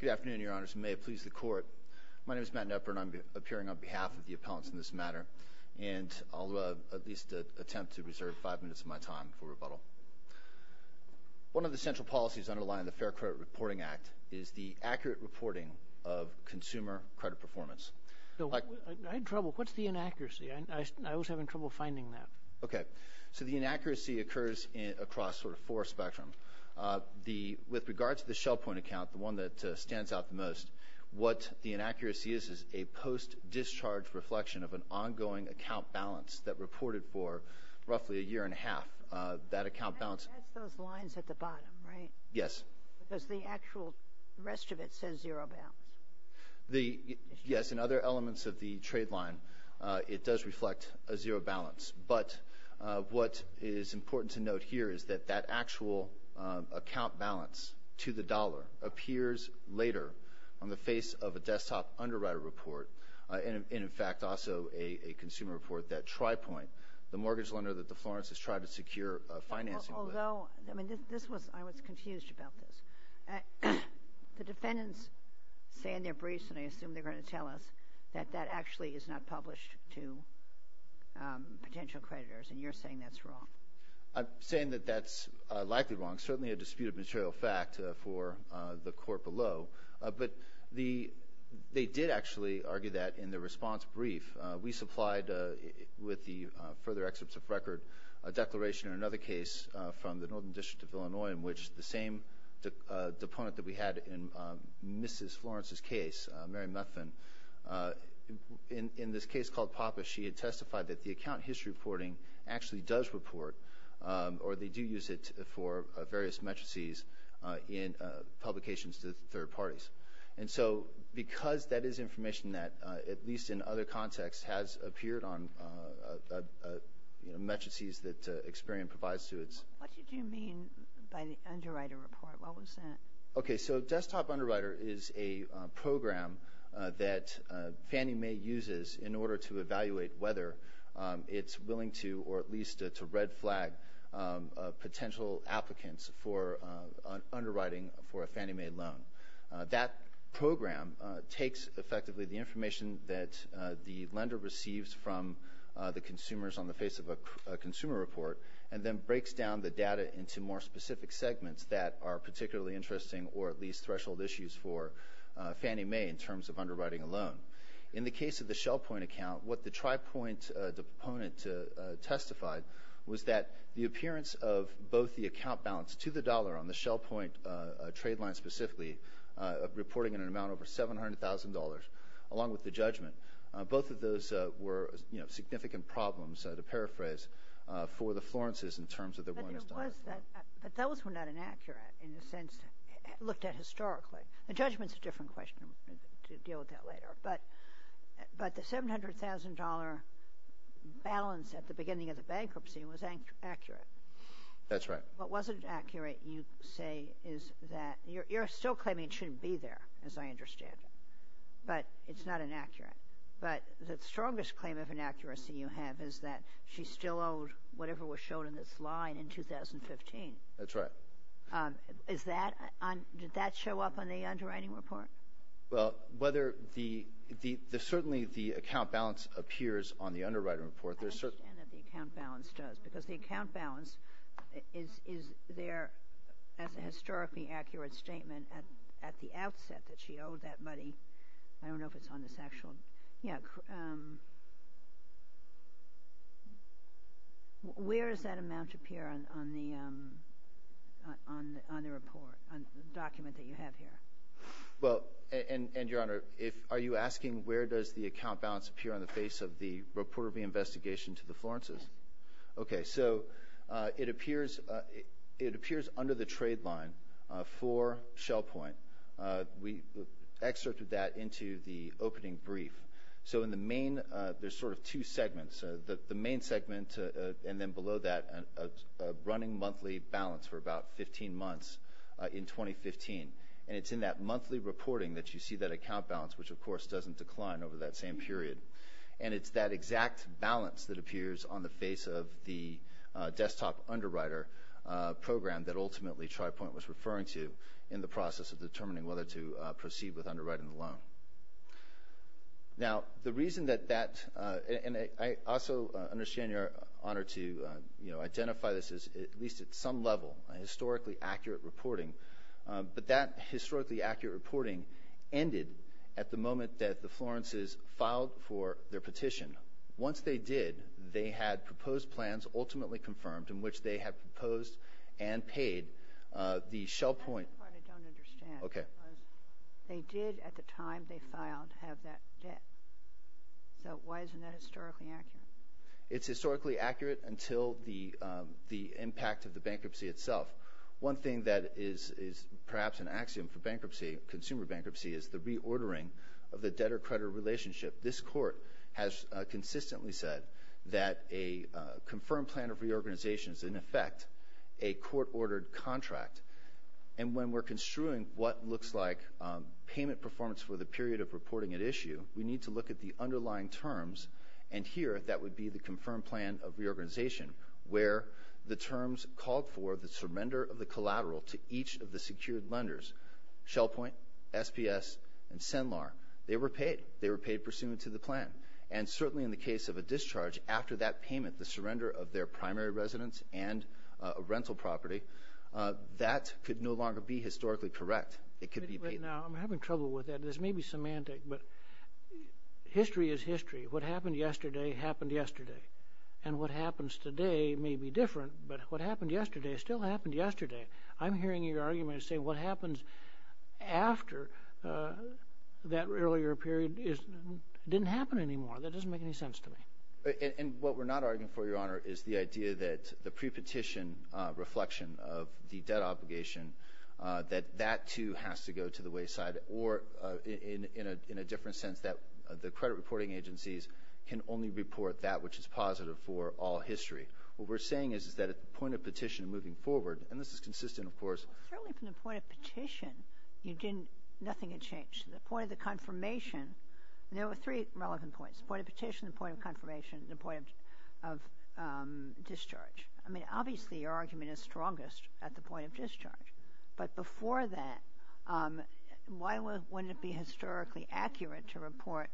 Good afternoon, Your Honors, and may it please the Court. My name is Matt Knepper, and I'm appearing on behalf of the appellants in this matter, and I'll at least attempt to reserve five minutes of my time for rebuttal. One of the central policies underlying the Fair Credit Reporting Act is the accurate reporting of consumer credit performance. I had trouble. What's the inaccuracy? I was having trouble finding that. Okay, so the inaccuracy occurs across sort of four spectrums. With regard to the ShellPoint account, the one that stands out the most, what the inaccuracy is is a post-discharge reflection of an ongoing account balance that reported for roughly a year and a half. That account balance... That's those lines at the bottom, right? Yes. Because the actual rest of it says zero balance. Yes, in other elements of the trade line, it does reflect a zero balance. But what is important to note here is that that actual account balance to the dollar appears later on the face of a desktop underwriter report and, in fact, also a consumer report that TriPoint, the mortgage lender that the Florence has tried to secure financing with... They say in their briefs, and I assume they're going to tell us, that that actually is not published to potential creditors, and you're saying that's wrong. I'm saying that that's likely wrong, certainly a disputed material fact for the court below. But they did actually argue that in the response brief. We supplied, with the further excerpts of record, a declaration in another case from the Northern District of Illinois in which the same deponent that we had in Mrs. Florence's case, Mary Muffin, in this case called PAPA, she had testified that the account history reporting actually does report, or they do use it for various matrices in publications to third parties. And so because that is information that, at least in other contexts, has appeared on matrices that Experian provides to its... What did you mean by the underwriter report? What was that? Okay, so Desktop Underwriter is a program that Fannie Mae uses in order to evaluate whether it's willing to, or at least to red flag potential applicants for underwriting for a Fannie Mae loan. That program takes, effectively, the information that the lender receives from the consumers on the face of a consumer report, and then breaks down the data into more specific segments that are particularly interesting, or at least threshold issues for Fannie Mae in terms of underwriting a loan. In the case of the ShellPoint account, what the TriPoint deponent testified was that the appearance of both the account balance to the dollar on the ShellPoint trade line specifically, reporting in an amount over $700,000, along with the judgment, both of those were significant problems, to paraphrase, for the Florences in terms of their willingness to underwrite. But those were not inaccurate, in a sense, looked at historically. The judgment's a different question. We'll deal with that later. But the $700,000 balance at the beginning of the bankruptcy was accurate. That's right. What wasn't accurate, you say, is that you're still claiming it shouldn't be there, as I understand it. But it's not inaccurate. But the strongest claim of inaccuracy you have is that she still owed whatever was shown in this line in 2015. That's right. Is that, did that show up on the underwriting report? Well, whether the, certainly the account balance appears on the underwriting report. I understand that the account balance does, because the account balance is there as a historically accurate statement at the outset that she owed that money. I don't know if it's on this actual, yeah. Where does that amount appear on the report, on the document that you have here? Well, and Your Honor, if, are you asking where does the account balance appear on the face of the report of the investigation to the Florences? Okay, so it appears, it appears under the trade line for Shell Point. We excerpted that into the opening brief. So in the main, there's sort of two segments. The main segment, and then below that, a running monthly balance for about 15 months in 2015. And it's in that monthly reporting that you see that account balance, which of course doesn't decline over that same period. And it's that exact balance that appears on the face of the desktop underwriter program that ultimately TriPoint was referring to in the process of determining whether to proceed with underwriting the loan. Now the reason that that, and I also understand Your Honor to, you know, identify this as at least at some level a historically accurate reporting. But that historically accurate reporting ended at the moment that the Florences filed for their petition. Once they did, they had proposed plans ultimately confirmed in which they had proposed and paid the Shell Point. That's the part I don't understand. Okay. They did at the time they filed have that debt. So why isn't that historically accurate? It's historically accurate until the impact of the bankruptcy itself. One thing that is perhaps an axiom for bankruptcy, consumer bankruptcy, is the reordering of the debtor-creditor relationship. This Court has consistently said that a confirmed plan of reorganization is in effect a court-ordered contract. And when we're construing what looks like payment performance for the period of reporting at issue, we need to look at the underlying terms. And here that would be the confirmed plan of reorganization, where the terms called for the surrender of the collateral to each of the secured lenders, Shell Point, SPS, and SINLAR, they were paid. They were paid pursuant to the plan. And certainly in the case of a discharge after that payment, the surrender of their primary residence and a rental property, that could no longer be historically correct. It could be paid. Now, I'm having trouble with that. This may be semantic, but history is history. What happened yesterday happened yesterday. And what happens today may be different, but what happened yesterday still happened yesterday. I'm hearing your argument saying what happens after that earlier period didn't happen anymore. That doesn't make any sense to me. And what we're not arguing for, Your Honor, is the idea that the pre-petition reflection of the debt obligation, that that too has to go to the wayside, or in a different sense that the credit reporting agencies can only report that which is positive for all history. What we're saying is that at the point of petition moving forward, and this is consistent, of course. Certainly from the point of petition, you didn't, nothing had changed. The point of the confirmation, there were three relevant points. The point of petition, the point of confirmation, and the point of discharge. I mean, obviously your argument is strongest at the point of discharge. But before that, why wouldn't it be historically accurate to report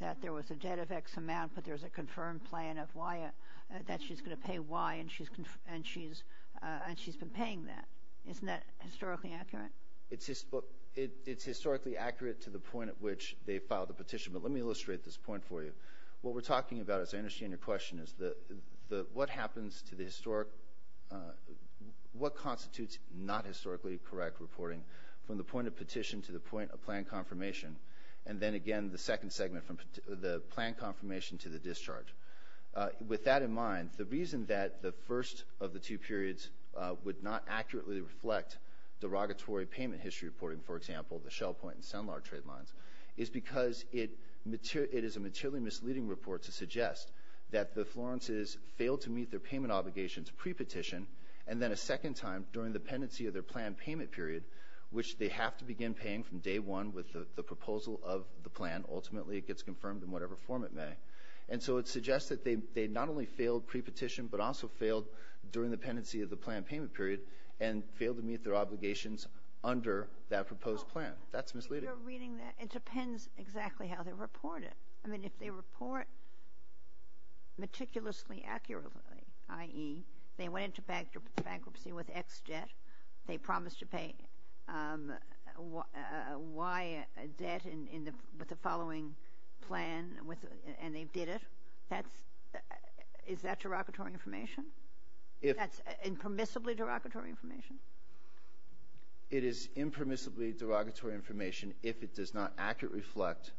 that there was a debt of X amount, but there was a confirmed plan of why, that she's going to pay Y, and she's been paying that. Isn't that historically accurate? It's historically accurate to the point at which they filed the petition. But let me illustrate this point for you. What we're talking about, as I understand your question, is what happens to the historic, what constitutes not historically correct reporting from the point of petition to the point of plan confirmation, and then again the second segment from the plan confirmation to the discharge. With that in mind, the reason that the first of the two periods would not accurately reflect derogatory payment history reporting, for example, the Shell Point and Sunlark trade lines, is because it is a materially misleading report to suggest that the Florences failed to meet their payment obligations pre-petition, and then a second time during the pendency of their plan payment period, which they have to begin paying from day one with the proposal of the plan, ultimately it gets confirmed in whatever form it may. And so it suggests that they not only failed pre-petition, but also failed during the pendency of the plan payment period, and failed to meet their obligations under that proposed plan. That's misleading. If you're reading that, it depends exactly how they report it. I mean, if they report meticulously, accurately, i.e., they went into bankruptcy with X debt, they promised to pay Y debt with the following plan, and they did it, is that derogatory information? That's impermissibly derogatory information? It is impermissibly derogatory information if it does not accurately reflect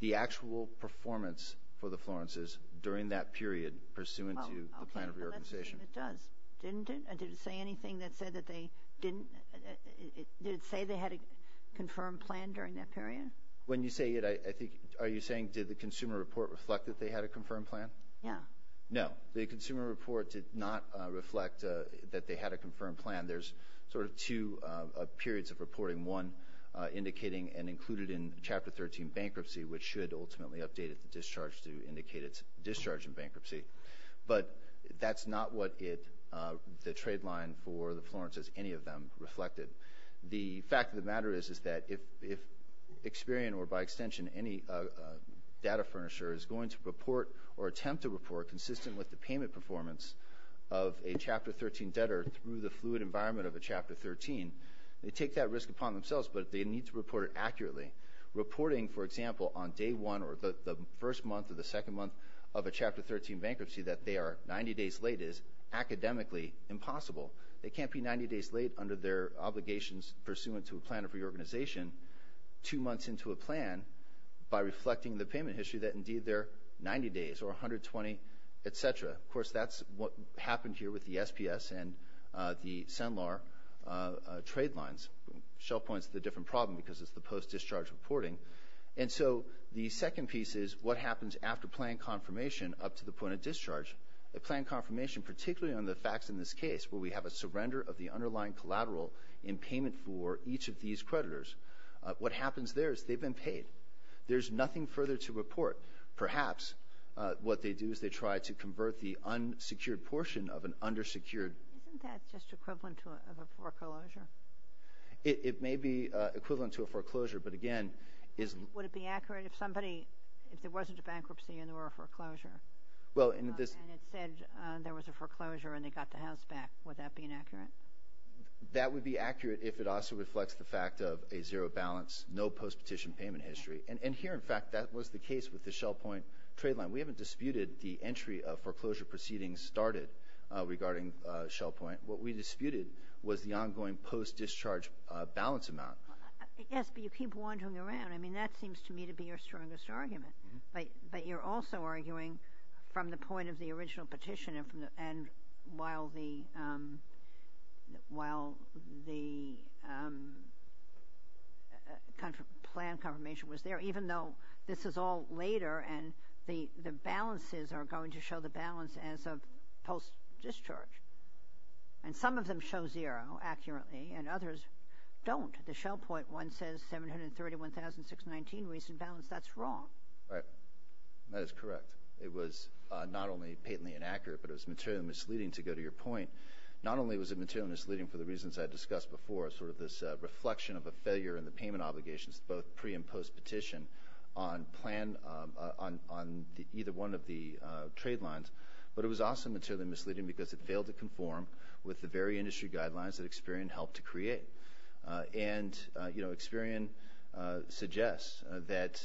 the actual performance for the Florences during that period pursuant to the plan of reorganization. It does. Didn't it? Did it say anything that said that they didn't – did it say they had a confirmed plan during that period? When you say it, I think – are you saying did the consumer report reflect that they had a confirmed plan? Yeah. No. The consumer report did not reflect that they had a confirmed plan. There's sort of two periods of reporting, one indicating and included in Chapter 13 bankruptcy, which should ultimately update it to discharge to indicate its discharge in bankruptcy. But that's not what it – the trade line for the Florences, any of them, reflected. The fact of the matter is, is that if Experian or by extension any data furnisher is going to report or attempt to report consistent with the payment performance of a Chapter 13 debtor through the fluid environment of a Chapter 13, they take that risk upon themselves, but they need to report it accurately. Reporting, for example, on day one or the first month or the second month of a Chapter 13 bankruptcy that they are 90 days late is academically impossible. They can't be 90 days late under their obligations pursuant to a plan of reorganization two months into a plan by reflecting the payment history that indeed they're 90 days or 120, et cetera. Of course, that's what happened here with the SPS and the SEMLAR trade lines. Shell Point's the different problem because it's the post-discharge reporting. And so the second piece is what happens after plan confirmation up to the point of discharge. The plan confirmation, particularly on the facts in this case where we have a surrender of the underlying collateral in payment for each of these creditors, what happens there is they've been paid. There's nothing further to report. Perhaps what they do is they try to convert the unsecured portion of an undersecured – Isn't that just equivalent to a foreclosure? It may be equivalent to a foreclosure, but again, is – Would it be accurate if somebody – if there wasn't a bankruptcy and there were a foreclosure and it said there was a foreclosure and they got the house back, would that be inaccurate? That would be accurate if it also reflects the fact of a zero balance, no post-petition payment history. And here, in fact, that was the case with the Shell Point trade line. We haven't disputed the entry of foreclosure proceedings started regarding Shell Point. What we disputed was the ongoing post-discharge balance amount. Yes, but you keep wandering around. I mean, that seems to me to be your strongest argument. But you're also arguing from the point of the original petition and while the plan confirmation was there, even though this is all later and the balances are going to show the balance as of post-discharge. And some of them show zero accurately and others don't. The Shell Point one says 731,619 reason balance. That's wrong. Right. That is correct. It was not only patently inaccurate, but it was materially misleading, to go to your point. Not only was it materially misleading for the reasons I discussed before, sort of this reflection of a failure in the payment obligations, both pre- and post-petition, on plan – on either one of the trade lines, but it was also materially misleading because it failed to conform with the very industry guidelines that Experian helped to create. And Experian suggests that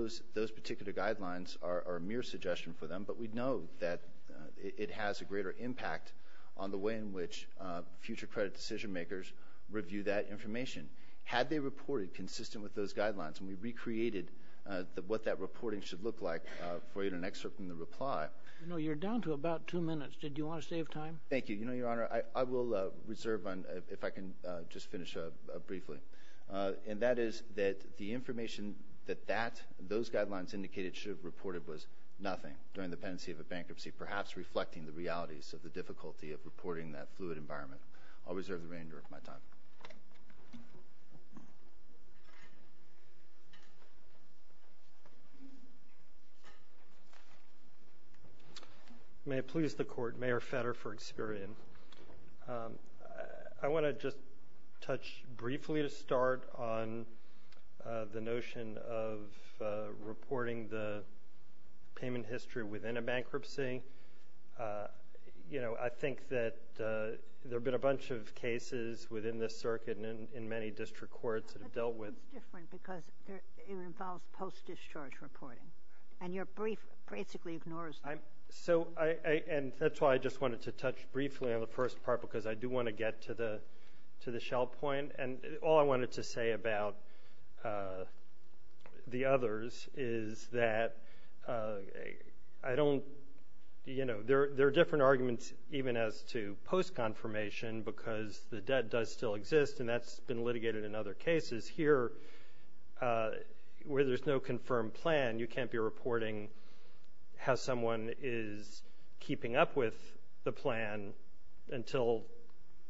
those particular guidelines are a mere suggestion for them, but we know that it has a greater impact on the way in which future credit decision makers review that information. Had they reported consistent with those guidelines and we recreated what that reporting should look like for you in an excerpt in the reply – You know, you're down to about two minutes. Did you want to save time? Thank you. You know, Your Honor, I will reserve on – if I can just finish up briefly. And that is that the information that that – those guidelines indicated should have reported was nothing during the pendency of a bankruptcy, perhaps reflecting the realities of the bankruptcy. May it please the Court, Mayor Fetter for Experian. I want to just touch briefly to start on the notion of reporting the payment history within a bankruptcy. You know, I think that there have been a bunch of cases within this circuit and in many district courts that have dealt with – But this one's different because it involves post-discharge reporting. And you're basically ignores that. So I – and that's why I just wanted to touch briefly on the first part because I do want to get to the shell point. And all I wanted to say about the others is that I don't – you know, there are different arguments even as to post-confirmation because the debt does still exist and that's been litigated in other cases. Here, where there's no confirmed plan, you can't be reporting how someone is keeping up with the plan until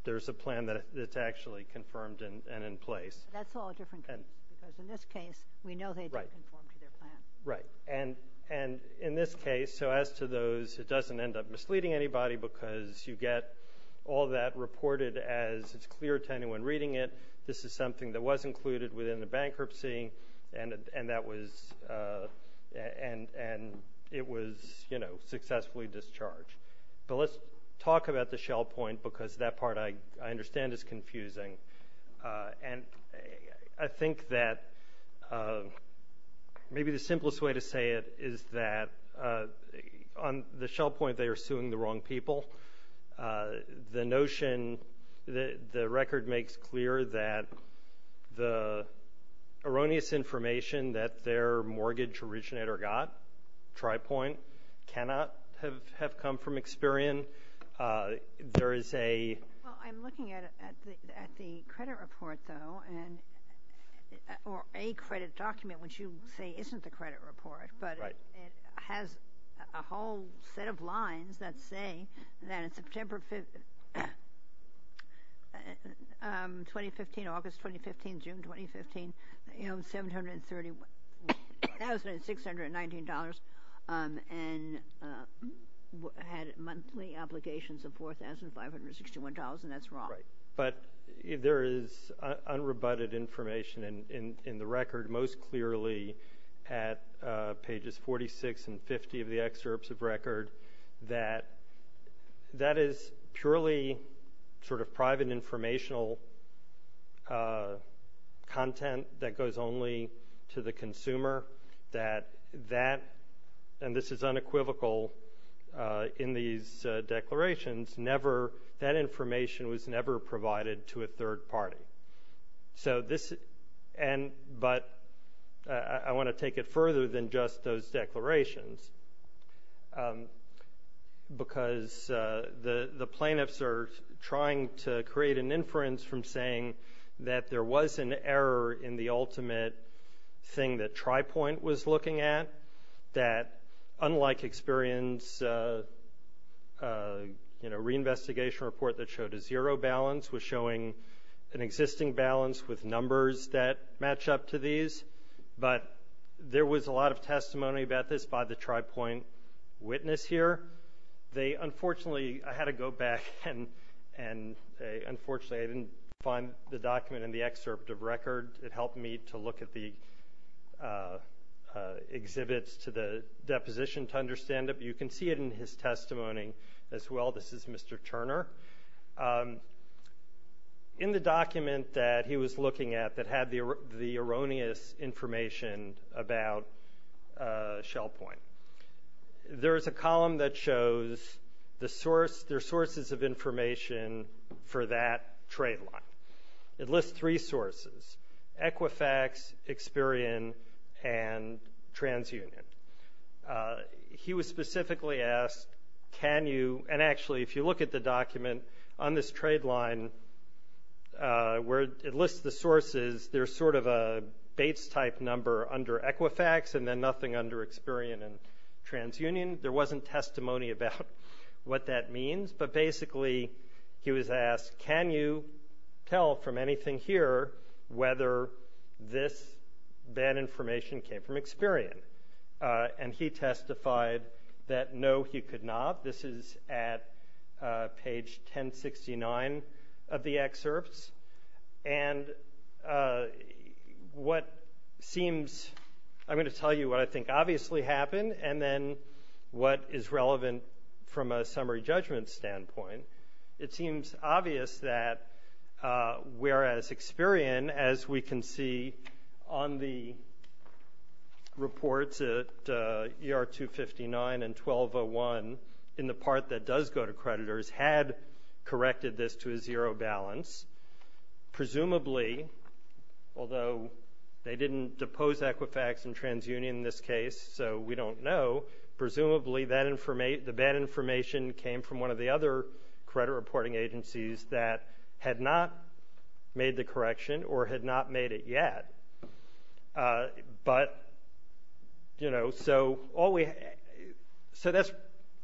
there's a plan that's actually confirmed and in place. That's all a different case because in this case, we know they don't conform to their plan. Right. And in this case, so as to those, it doesn't end up misleading anybody because you get all that reported as clear to anyone reading it. This is something that was included within the bankruptcy and that was – and it was, you know, successfully discharged. But let's talk about the shell point because that part I understand is confusing. And I think that maybe the simplest way to say it is that on the shell point, they are suing the wrong people. The notion – the record makes clear that the erroneous information that their mortgage originator got, TriPoint, cannot have come from Experian. There is a – Well, I'm looking at the credit report, though, and – or a credit document, which you say isn't the credit report, but it has a whole set of lines that say that in September 2015 – August 2015, June 2015, $731,619 and had monthly obligations of $4,561, and that's wrong. But there is unrebutted information in the record most clearly at pages 46 and 50 of the excerpts of record that that is purely sort of private informational content that goes only to the consumer, that that – and this is unequivocal in these declarations – never – that information was never provided to a third party. So this – and – but I want to take it further than just those declarations because the plaintiffs are trying to create an inference from saying that there was an error in the ultimate thing that TriPoint was looking at, that unlike Experian's re-investigation report that showed a zero balance was showing an existing balance with numbers that match up to these. But there was a lot of testimony about this by the TriPoint witness here. They – unfortunately, I had to go back and – unfortunately, I didn't find the document in the excerpt of record. It helped me to look at the exhibits to the deposition to Mr. Turner. In the document that he was looking at that had the erroneous information about ShellPoint, there is a column that shows the source – their sources of information for that trade line. It lists three sources – Equifax, Experian, and TransUnion. He was specifically asked, can you – and actually, if you look at the document on this trade line where it lists the sources, there's sort of a Bates-type number under Equifax and then nothing under Experian and TransUnion. There wasn't testimony about what that means. But basically, he was asked, can you tell from anything here whether this bad information came from Experian? And he testified that no, he could not. This is at page 1069 of the excerpts. And what seems – I'm going to tell you what I think obviously happened and then what is relevant from a summary judgment standpoint. It seems obvious that whereas Experian, as we can see on the reports at ER 259 and 1201 in the part that does go to creditors, had corrected this to a zero balance. Presumably, although they didn't depose Equifax and TransUnion in this case, so we don't know, presumably the bad information came from one of the other credit reporting agencies that had not made the correction or had not made it yet. But, you know, so all we – so that's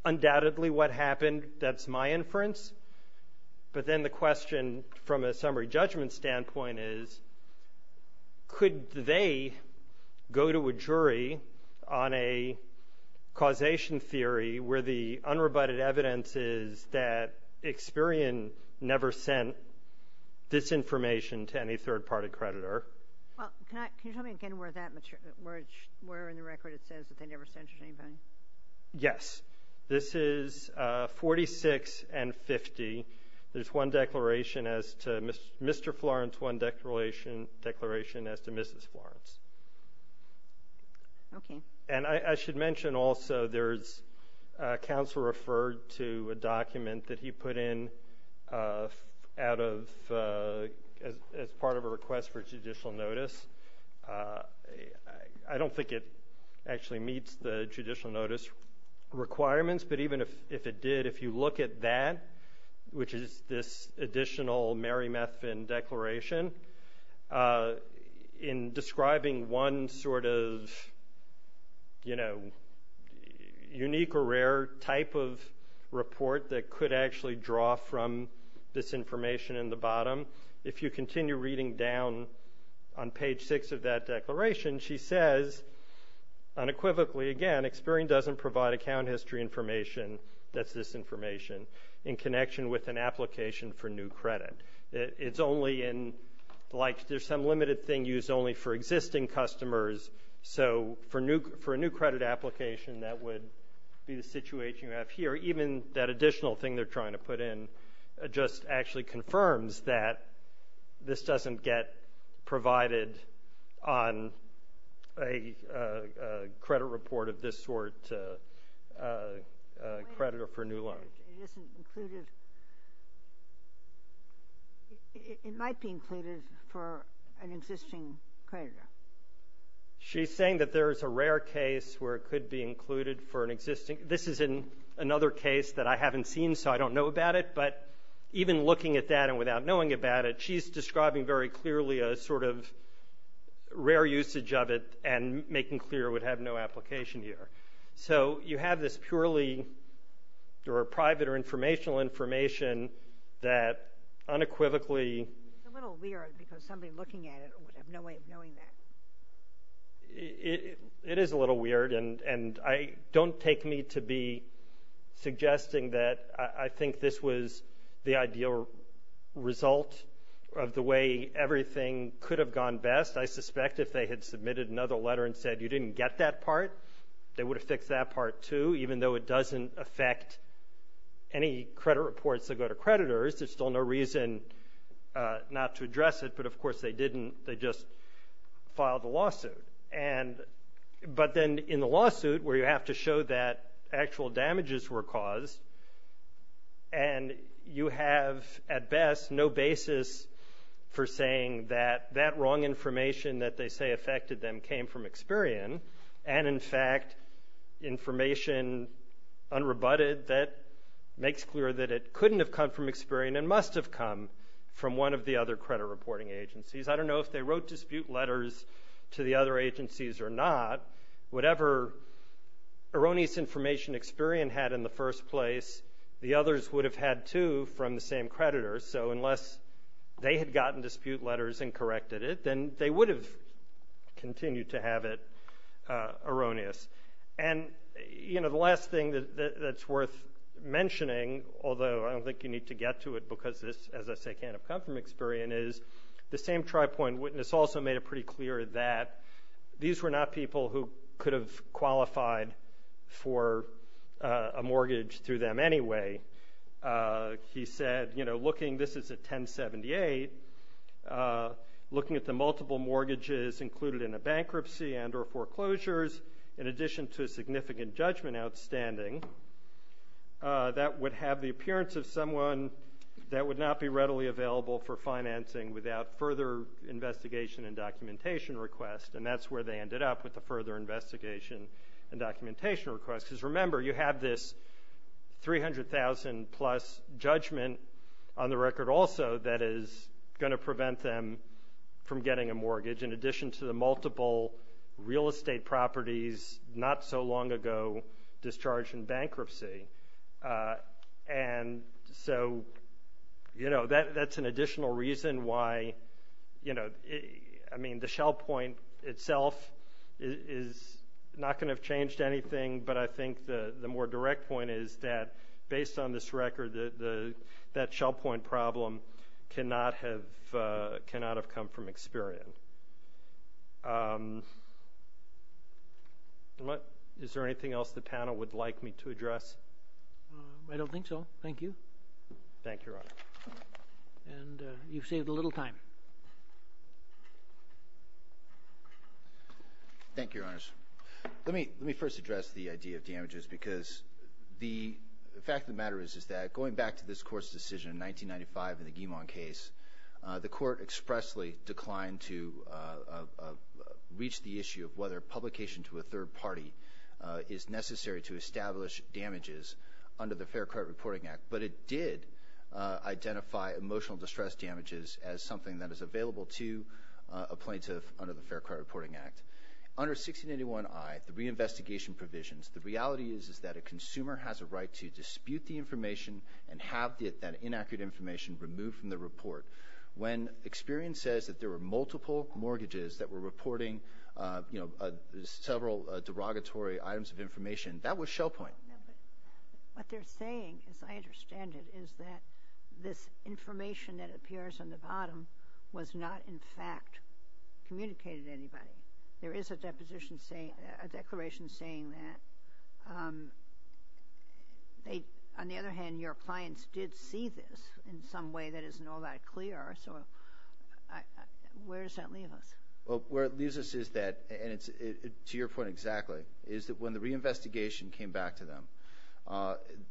undoubtedly what happened. That's my inference. But then the question from a summary judgment standpoint is, could they go to a jury on a causation theory where the unrebutted evidence is that Experian never sent this information to any third-party creditor? Well, can you tell me again where that – where in the record it says that they never sent it to Mr. Florence, one declaration as to Mrs. Florence? Okay. And I should mention also there's a counsel referred to a document that he put in out of – as part of a request for judicial notice. I don't think it actually meets the judicial notice requirements, but even if it did, if you look at that, which is this additional Merrimethvin declaration, in describing one sort of, you know, unique or rare type of report that could actually draw from this information in the bottom, if you continue reading down on page six of that declaration, she says unequivocally, again, Experian doesn't provide account history information that's this information in connection with an application for new credit. It's only in – like, there's some limited thing used only for existing customers, so for a new credit application, that would be the situation you have here. Even that additional thing they're trying to put in just actually confirms that this doesn't get provided on a credit report of this sort to a creditor for a new loan. It isn't included – it might be included for an existing creditor. MR. ZUNIGA. She's saying that there's a rare case where it could be included for an existing – this is in another case that I haven't seen, so I don't know about it, but even looking at that and without knowing about it, she's describing very clearly a sort of rare usage of it and making clear it would have no application here. So you have this purely – or private or informational information that unequivocally – MS. GOTTLIEB. It's a little weird because somebody looking at it would have no way of knowing that. MR. ZUNIGA. It is a little weird, and I – don't take me to be suggesting that I think this was the ideal result of the way everything could have gone best. I suspect if they had submitted another letter and said you didn't get that part, they would have fixed that part, too, even though it doesn't affect any credit reports that go to creditors. There's still no reason not to address it, but, of course, they didn't. They just filed a lawsuit. And – but then in the lawsuit where you have to show that actual damages were caused and you have, at best, no basis for saying that that wrong information that they say affected them came from Experian and, in fact, information unrebutted that makes clear that it couldn't have come from Experian and must have come from one of the other credit reporting agencies. I don't know if they wrote dispute letters to the other agencies or not. Whatever erroneous information Experian had in the first place, the others would have had, too, from the same creditor. So unless they had gotten dispute letters and corrected it, then they would have continued to have it erroneous. And, you know, the last thing that's worth mentioning, although I don't think you need to get to it because this, as I say, can't have come from Experian, is the same tri-point witness also made it pretty clear that these were not people who could have qualified for a mortgage through them anyway. He said, you know, looking – this is at 1078 – looking at the multiple mortgages included in a bankruptcy and or foreclosures, in addition to a significant judgment outstanding, that would have the appearance of someone that would not be readily available for financing without further investigation and documentation request. And that's where they ended up with the further investigation and documentation request, because remember, you have this 300,000-plus judgment on the record also that is going to prevent them from getting a mortgage, in addition to the multiple real estate properties not so long ago discharged in bankruptcy. And so, you know, that's an additional reason why, you know – I don't think so. Thank you. Thank you, Your Honor. And you've saved a little time. Thank you, Your Honors. Let me first address the idea of damages, because the fact of the matter is that going back to this Court's decision in 1995 in the Guimon case, the Court expressly declined to reach the issue of whether publication to a third party is necessary to establish damages under the Fair Credit Reporting Act. But it did identify emotional distress damages as something that is available to a plaintiff under the Fair Credit Reporting Act. Under 1681i, the reinvestigation provisions, the reality is that a consumer has a right to dispute the information and have that inaccurate information removed from the report. When experience says that there were multiple mortgages that were reporting, you know, several derogatory items of information, that was show point. No, but what they're saying, as I understand it, is that this information that appears on the bottom was not, in fact, communicated to anybody. There is a deposition saying – a declaration saying that. On the other hand, your clients did see this in some way that isn't all that clear, so where does that leave us? Well, where it leaves us is that – and to your point exactly – is that when the reinvestigation came back to them,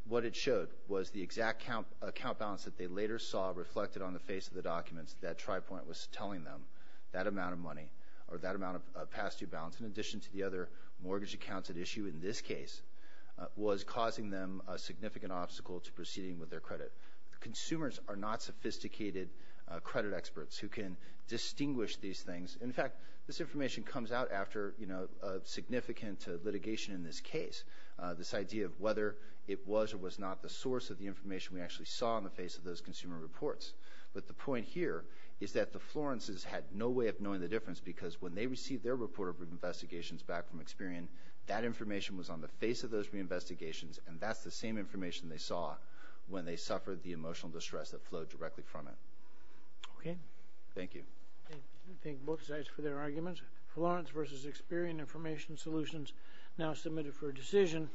what it showed was the exact account balance that they later saw reflected on the face of the documents. That try point was telling them that amount of money or that amount of past due balance, in addition to the other mortgage accounts at issue in this case, was causing them a significant obstacle to proceeding with their credit. Consumers are not sophisticated credit experts who can distinguish these things. In fact, this information comes out after, you know, a significant litigation in this case. This idea of whether it was or was not the source of the information we actually saw on the face of those consumer reports. But the point here is that the Florences had no way of knowing the difference because when they received their report of reinvestigations back from Experian, that information was on the face of those reinvestigations, and that's the same information they saw when they suffered the emotional distress that flowed directly from it. Okay. Thank you. Thank both sides for their arguments. Florence versus Experian information solutions now submitted for a decision.